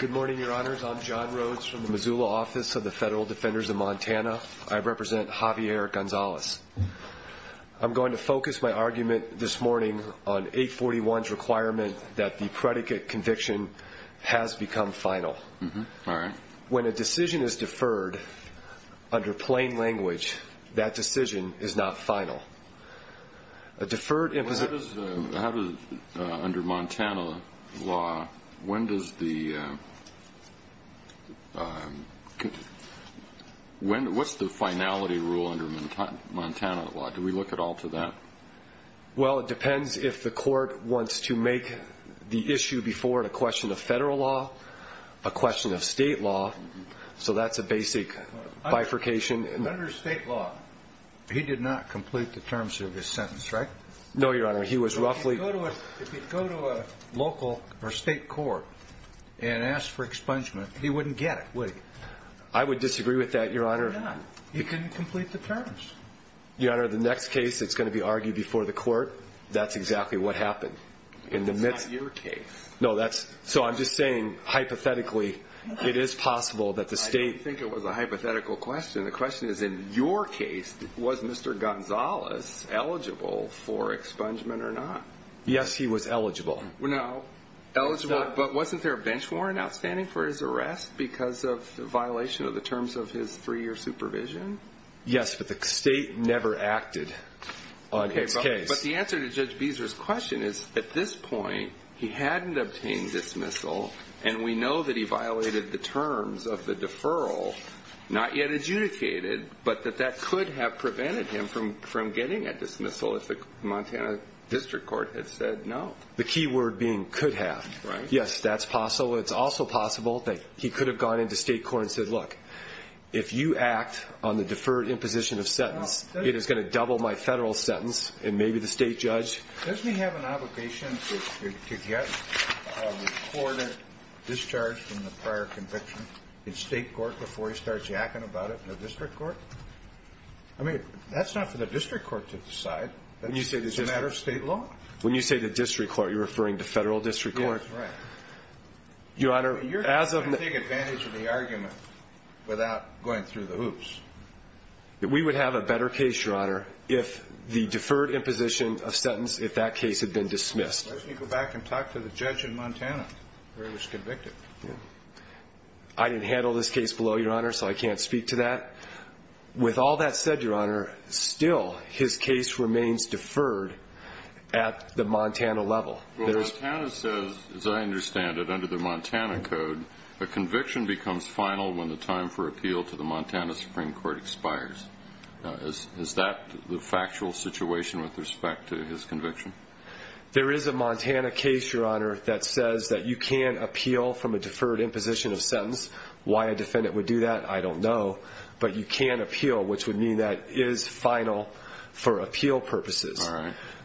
Good morning, Your Honors. I'm John Rhodes from the Missoula Office of the Federal Defenders of Montana. I represent Javier Gonzales. I'm going to focus my argument this morning on 841's requirement that the predicate conviction has become final. When a decision is deferred under plain language, that decision is not final. Under Montana law, what's the finality rule under Montana law? Do we look at all to that? Well, it depends if the court wants to make the issue before it a question of bifurcation. Under state law, he did not complete the terms of his sentence, right? No, Your Honor. If you go to a local or state court and ask for expungement, he wouldn't get it, would he? I would disagree with that, Your Honor. He couldn't complete the terms. Your Honor, the next case that's going to be argued before the court, that's exactly what happened. That's not your case. So I'm just saying, hypothetically, it is possible that the state... I don't think it was a hypothetical question. The question is, in your case, was Mr. Gonzales eligible for expungement or not? Yes, he was eligible. But wasn't there a bench warrant outstanding for his arrest because of the violation of the terms of his three-year supervision? Yes, but the state never acted on his case. But the answer to Judge Beezer's question is, at this point, he hadn't obtained dismissal, and we know that he violated the terms of the deferral, not yet adjudicated, but that that could have prevented him from getting a dismissal if the Montana District Court had said no. The key word being could have. Yes, that's possible. It's also possible that he could have gone into state court and said, look, if you act on the deferred imposition of sentence, it is going to double my federal sentence, and maybe the state judge... Doesn't he have an obligation to get a recorded discharge from the prior conviction in state court before he starts yacking about it in the district court? I mean, that's not for the district court to decide. That's a matter of state law. When you say the district court, you're referring to federal district court. That's right. You're going to take advantage of the argument without going through the hoops. We would have a better case, Your Honor, if the deferred imposition of sentence, if that case had been dismissed. Why don't you go back and talk to the judge in Montana where he was convicted? I didn't handle this case below, Your Honor, so I can't speak to that. With all that said, Your Honor, still, his case remains deferred at the Montana level. Montana says, as I understand it, under the Montana code, a conviction becomes final when the time for appeal to the Montana Supreme Court expires. Is that the factual situation with respect to his conviction? There is a Montana case, Your Honor, that says that you can appeal from a deferred imposition of sentence. Why a defendant would do that, I don't know, but you can appeal, which would mean that it is final for appeal purposes.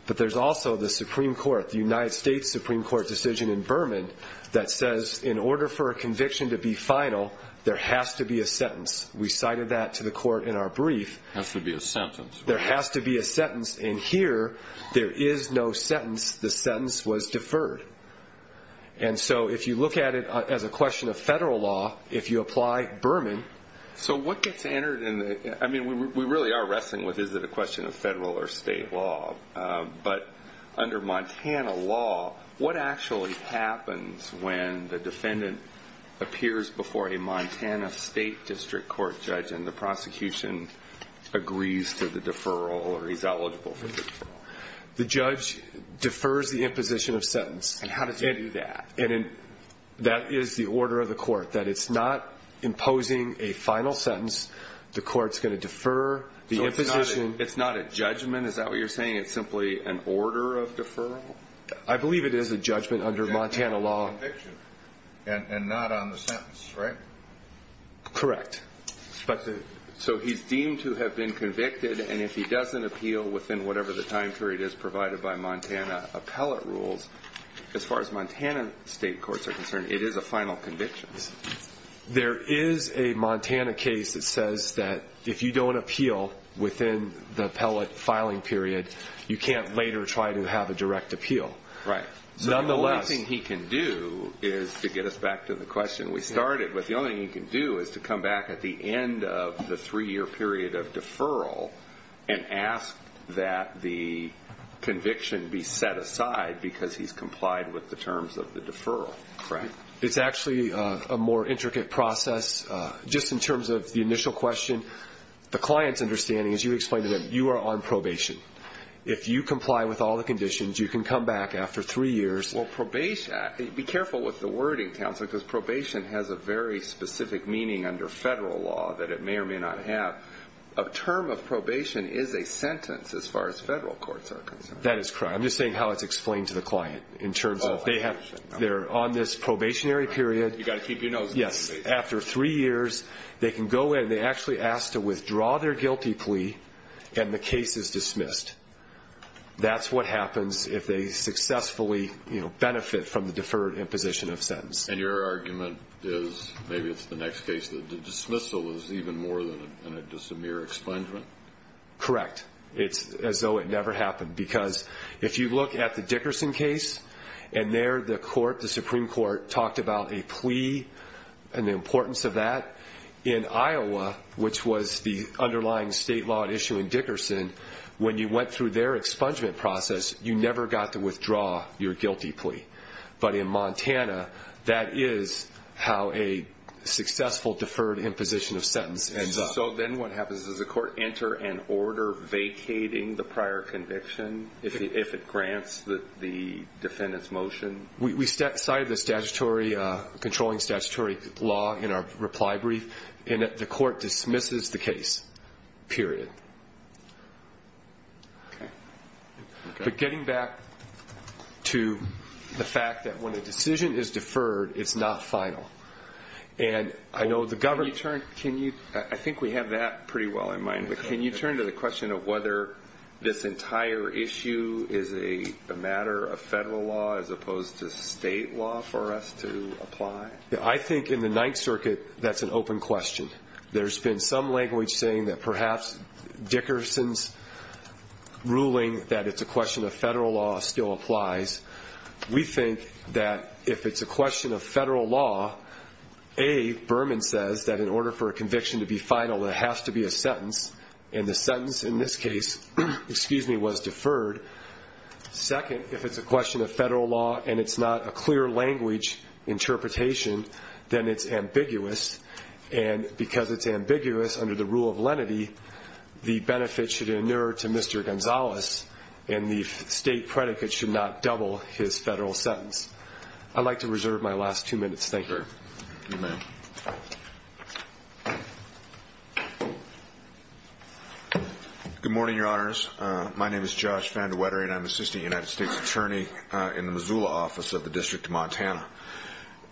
But there's also the Supreme Court, the United States Supreme Court decision in Berman that says, in order for a conviction to be final, there has to be a sentence. We cited that to the court in our brief. There has to be a sentence. There has to be a sentence, and here, there is no sentence. The sentence was deferred. And so, if you look at it as a question of federal law, if you apply Berman... So what gets entered in the... I mean, we really are wrestling with, is it a question of federal or state law, but under Montana law, what actually happens when the defendant appears before a Montana State District Court judge and the prosecution agrees to the deferral or is eligible for the deferral? The judge defers the imposition of sentence. And how does he do that? And that is the order of the court, that it's not imposing a final sentence. The court's going to defer the imposition. So it's not a judgment? Is that what you're saying? It's simply an order of deferral? I believe it is a judgment under Montana law. And not on the sentence, right? Correct. So he's deemed to have been convicted, and if he doesn't appeal within whatever the time period is provided by Montana appellate rules, as far as Montana state courts are concerned, it is a final conviction. There is a Montana case that says that if you don't appeal within the appellate filing period, you can't later try to have a direct appeal. Right. Nonetheless... What he can do is to get us back to the question we started. But the only thing he can do is to come back at the end of the three-year period of deferral and ask that the conviction be set aside because he's complied with the terms of the deferral. Correct. It's actually a more intricate process. Just in terms of the initial question, the client's understanding, as you explained to them, you are on probation. If you comply with all the conditions, you can come back after three years. Be careful with the wording, Counselor, because probation has a very specific meaning under federal law that it may or may not have. A term of probation is a sentence, as far as federal courts are concerned. That is correct. I'm just saying how it's explained to the client in terms of they're on this probationary period. You've got to keep your nose out of it. Yes. After three years, they can go in. They actually ask to withdraw their guilty plea, and the case is dismissed. That's what happens if they successfully benefit from the deferred imposition of sentence. And your argument is maybe it's the next case. The dismissal is even more than just a mere expungement? Correct. It's as though it never happened because if you look at the Dickerson case, and there the Supreme Court talked about a plea and the importance of that. In Iowa, which was the underlying state law at issue in Dickerson, when you went through their expungement process, you never got to withdraw your guilty plea. But in Montana, that is how a successful deferred imposition of sentence ends up. So then what happens? Does the court enter an order vacating the prior conviction if it grants the defendant's motion? We cited the controlling statutory law in our reply brief, and the court dismisses the case, period. But getting back to the fact that when a decision is deferred, it's not final. I think we have that pretty well in mind, But can you turn to the question of whether this entire issue is a matter of federal law as opposed to state law for us to apply? I think in the Ninth Circuit, that's an open question. There's been some language saying that perhaps Dickerson's ruling that it's a question of federal law still applies. We think that if it's a question of federal law, A, Berman says that in order for a conviction to be final, there has to be a sentence. And the sentence in this case was deferred. Second, if it's a question of federal law and it's not a clear language interpretation, then it's ambiguous. And because it's ambiguous under the rule of lenity, the benefit should inure to Mr. Gonzalez, and the state predicate should not double his federal sentence. I'd like to reserve my last two minutes. Thank you. Good morning, Your Honors. My name is Josh Vandewetter, and I'm an assistant United States attorney in the Missoula office of the District of Montana.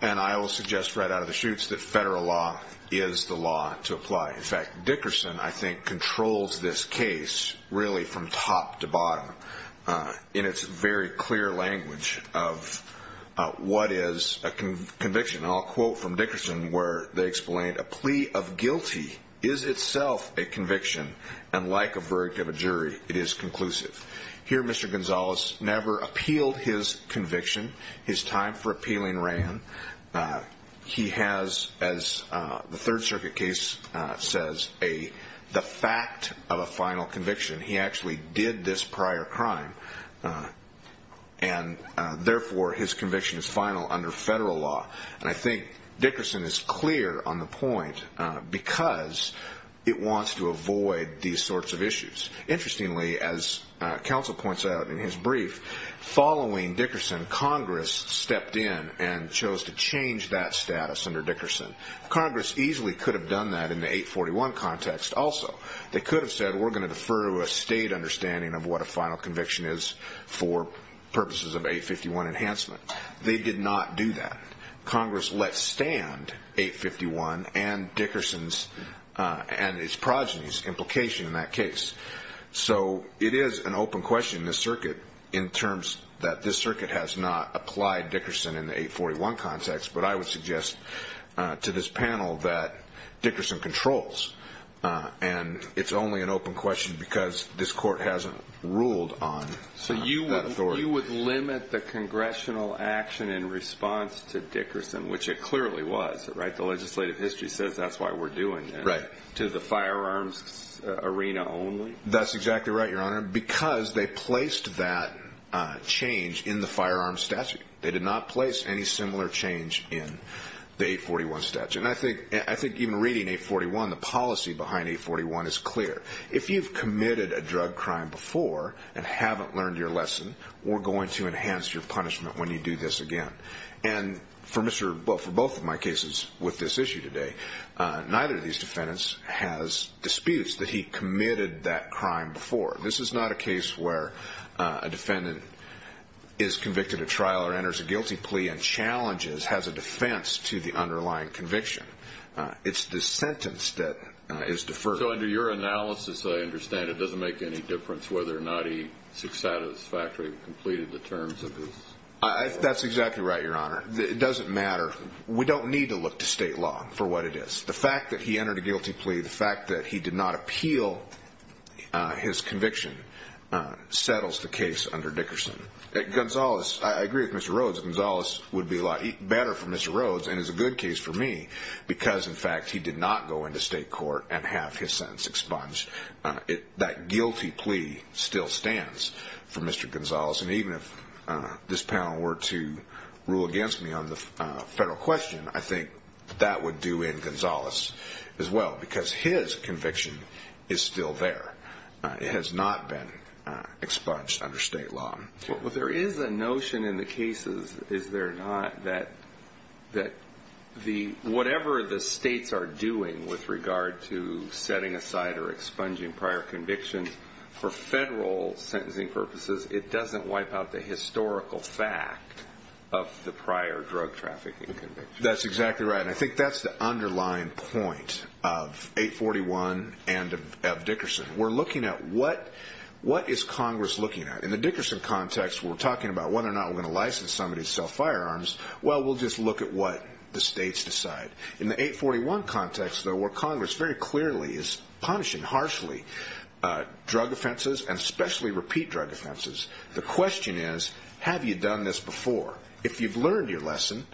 And I will suggest right out of the chutes that federal law is the law to apply. In fact, Dickerson, I think, controls this case really from top to bottom in its very clear language of what is a conviction. And I'll quote from Dickerson where they explain, A plea of guilty is itself a conviction, and like a verdict of a jury, it is conclusive. Here, Mr. Gonzalez never appealed his conviction. His time for appealing ran. He has, as the Third Circuit case says, the fact of a final conviction. He actually did this prior crime, and therefore his conviction is final under federal law. And I think Dickerson is clear on the point because it wants to avoid these sorts of issues. Interestingly, as counsel points out in his brief, following Dickerson, Congress stepped in and chose to change that status under Dickerson. Congress easily could have done that in the 841 context also. They could have said we're going to defer to a state understanding of what a final conviction is for purposes of 851 enhancement. They did not do that. Congress let stand 851 and Dickerson's and his progeny's implication in that case. So it is an open question in this circuit in terms that this circuit has not applied Dickerson in the 841 context, but I would suggest to this panel that Dickerson controls. And it's only an open question because this court hasn't ruled on that authority. So you would limit the congressional action in response to Dickerson, which it clearly was, right? The legislative history says that's why we're doing it. Right. To the firearms arena only? That's exactly right, Your Honor, because they placed that change in the firearms statute. They did not place any similar change in the 841 statute. And I think even reading 841, the policy behind 841 is clear. If you've committed a drug crime before and haven't learned your lesson, we're going to enhance your punishment when you do this again. And for both of my cases with this issue today, neither of these defendants has disputes that he committed that crime before. This is not a case where a defendant is convicted at trial or enters a guilty plea and challenges, has a defense to the underlying conviction. It's the sentence that is deferred. So under your analysis, I understand it doesn't make any difference whether or not he's satisfactorily completed the terms of his trial. That's exactly right, Your Honor. It doesn't matter. We don't need to look to state law for what it is. The fact that he entered a guilty plea, the fact that he did not appeal his conviction settles the case under Dickerson. Gonzales, I agree with Mr. Rhodes, Gonzales would be a lot better for Mr. Rhodes and is a good case for me because, in fact, he did not go into state court and have his sentence expunged. That guilty plea still stands for Mr. Gonzales. And even if this panel were to rule against me on the federal question, I think that would do in Gonzales as well because his conviction is still there. It has not been expunged under state law. Well, there is a notion in the cases, is there not, that whatever the states are doing with regard to setting aside or expunging prior convictions for federal sentencing purposes, it doesn't wipe out the historical fact of the prior drug trafficking conviction. That's exactly right, and I think that's the underlying point of 841 and of Dickerson. We're looking at what is Congress looking at. In the Dickerson context, we're talking about whether or not we're going to license somebody to sell firearms. Well, we'll just look at what the states decide. In the 841 context, though, where Congress very clearly is punishing harshly drug offenses and especially repeat drug offenses, the question is, have you done this before? If you've learned your lesson,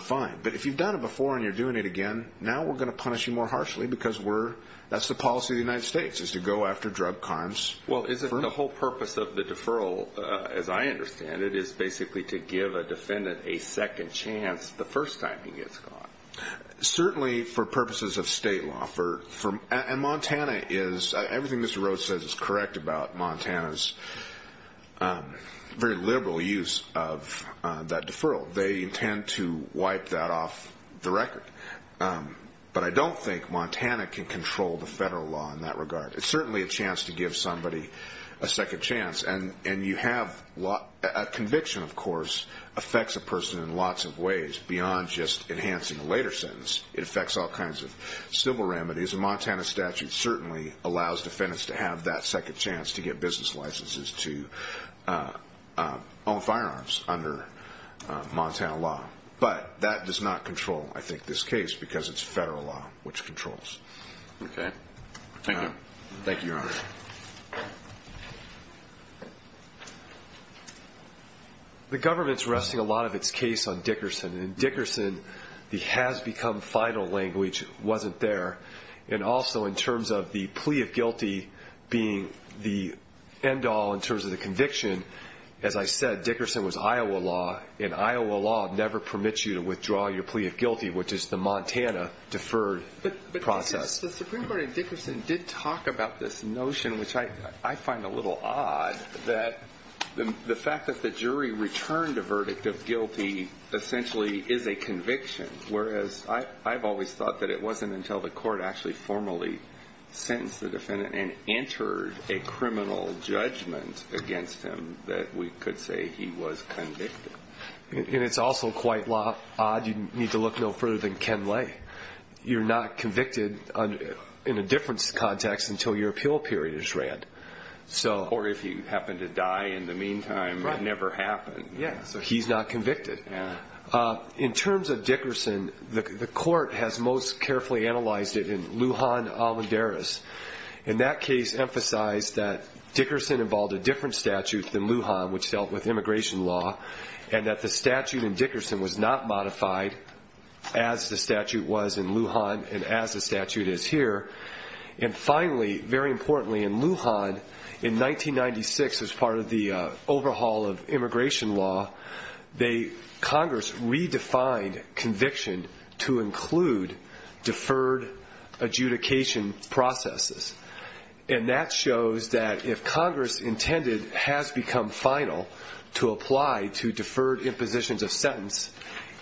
fine. But if you've done it before and you're doing it again, now we're going to punish you more harshly because that's the policy of the United States is to go after drug crimes. Well, isn't the whole purpose of the deferral, as I understand it, is basically to give a defendant a second chance the first time he gets caught? Certainly for purposes of state law. And Montana is, everything Mr. Rhodes says is correct about Montana's very liberal use of that deferral. They intend to wipe that off the record. But I don't think Montana can control the federal law in that regard. It's certainly a chance to give somebody a second chance. And you have a conviction, of course, affects a person in lots of ways beyond just enhancing a later sentence. It affects all kinds of civil remedies. A Montana statute certainly allows defendants to have that second chance to get business licenses to own firearms under Montana law. But that does not control, I think, this case because it's federal law which controls. Okay. Thank you. Thank you, Your Honor. The government's resting a lot of its case on Dickerson. And in Dickerson, the has become final language wasn't there. And also in terms of the plea of guilty being the end all in terms of the conviction, as I said, Dickerson was Iowa law, and Iowa law never permits you to withdraw your plea of guilty, which is the Montana deferred process. The Supreme Court in Dickerson did talk about this notion, which I find a little odd, that the fact that the jury returned a verdict of guilty essentially is a conviction, whereas I've always thought that it wasn't until the court actually formally sentenced the defendant and entered a criminal judgment against him that we could say he was convicted. And it's also quite odd. You need to look no further than Ken Lay. You're not convicted in a difference context until your appeal period is read. Or if you happen to die in the meantime, it never happened. Yeah, so he's not convicted. Yeah. In terms of Dickerson, the court has most carefully analyzed it in Lujan-Almeidares. And that case emphasized that Dickerson involved a different statute than Lujan, which dealt with immigration law, and that the statute in Dickerson was not modified as the statute was in Lujan and as the statute is here. And finally, very importantly, in Lujan, in 1996, as part of the overhaul of immigration law, Congress redefined conviction to include deferred adjudication processes. And that shows that if Congress intended has become final to apply to deferred impositions of sentence,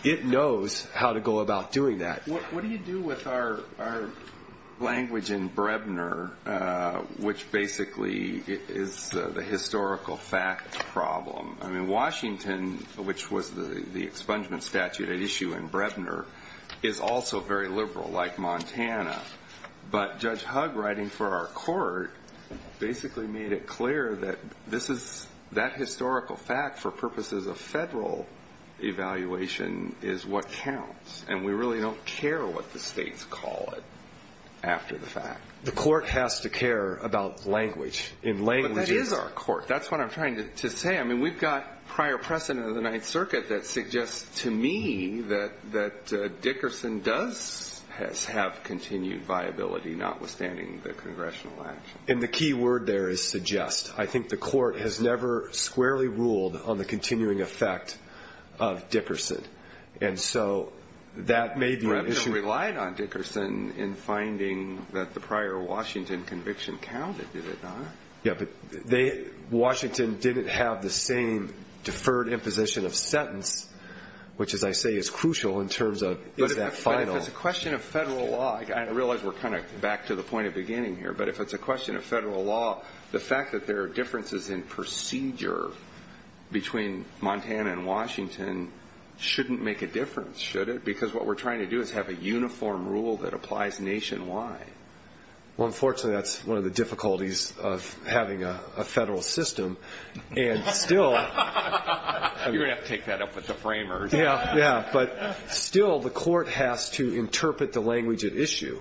it knows how to go about doing that. What do you do with our language in Brebner, which basically is the historical fact problem? I mean, Washington, which was the expungement statute at issue in Brebner, is also very liberal, like Montana. But Judge Hugg, writing for our court, basically made it clear that that historical fact, for purposes of federal evaluation, is what counts. And we really don't care what the states call it after the fact. The court has to care about language. But that is our court. That's what I'm trying to say. I mean, we've got prior precedent of the Ninth Circuit that suggests to me that Dickerson does have continued viability, notwithstanding the congressional action. And the key word there is suggest. I think the court has never squarely ruled on the continuing effect of Dickerson. And so that may be an issue. Brebner relied on Dickerson in finding that the prior Washington conviction counted, did it not? Yeah, but Washington didn't have the same deferred imposition of sentence, which, as I say, is crucial in terms of is that final? But if it's a question of federal law, I realize we're kind of back to the point of beginning here, but if it's a question of federal law, the fact that there are differences in procedure between Montana and Washington shouldn't make a difference, should it? Because what we're trying to do is have a uniform rule that applies nationwide. Well, unfortunately, that's one of the difficulties of having a federal system. And still the court has to interpret the language at issue.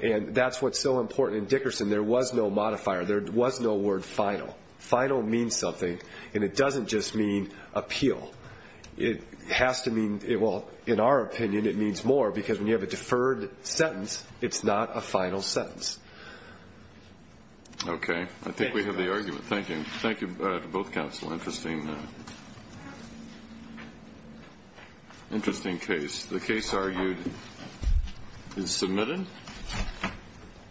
And that's what's so important in Dickerson. There was no modifier. There was no word final. Final means something, and it doesn't just mean appeal. It has to mean, well, in our opinion, it means more, because when you have a deferred sentence, it's not a final sentence. Okay. I think we have the argument. Thank you. Thank you to both counsel. Interesting case. The case argued is submitted.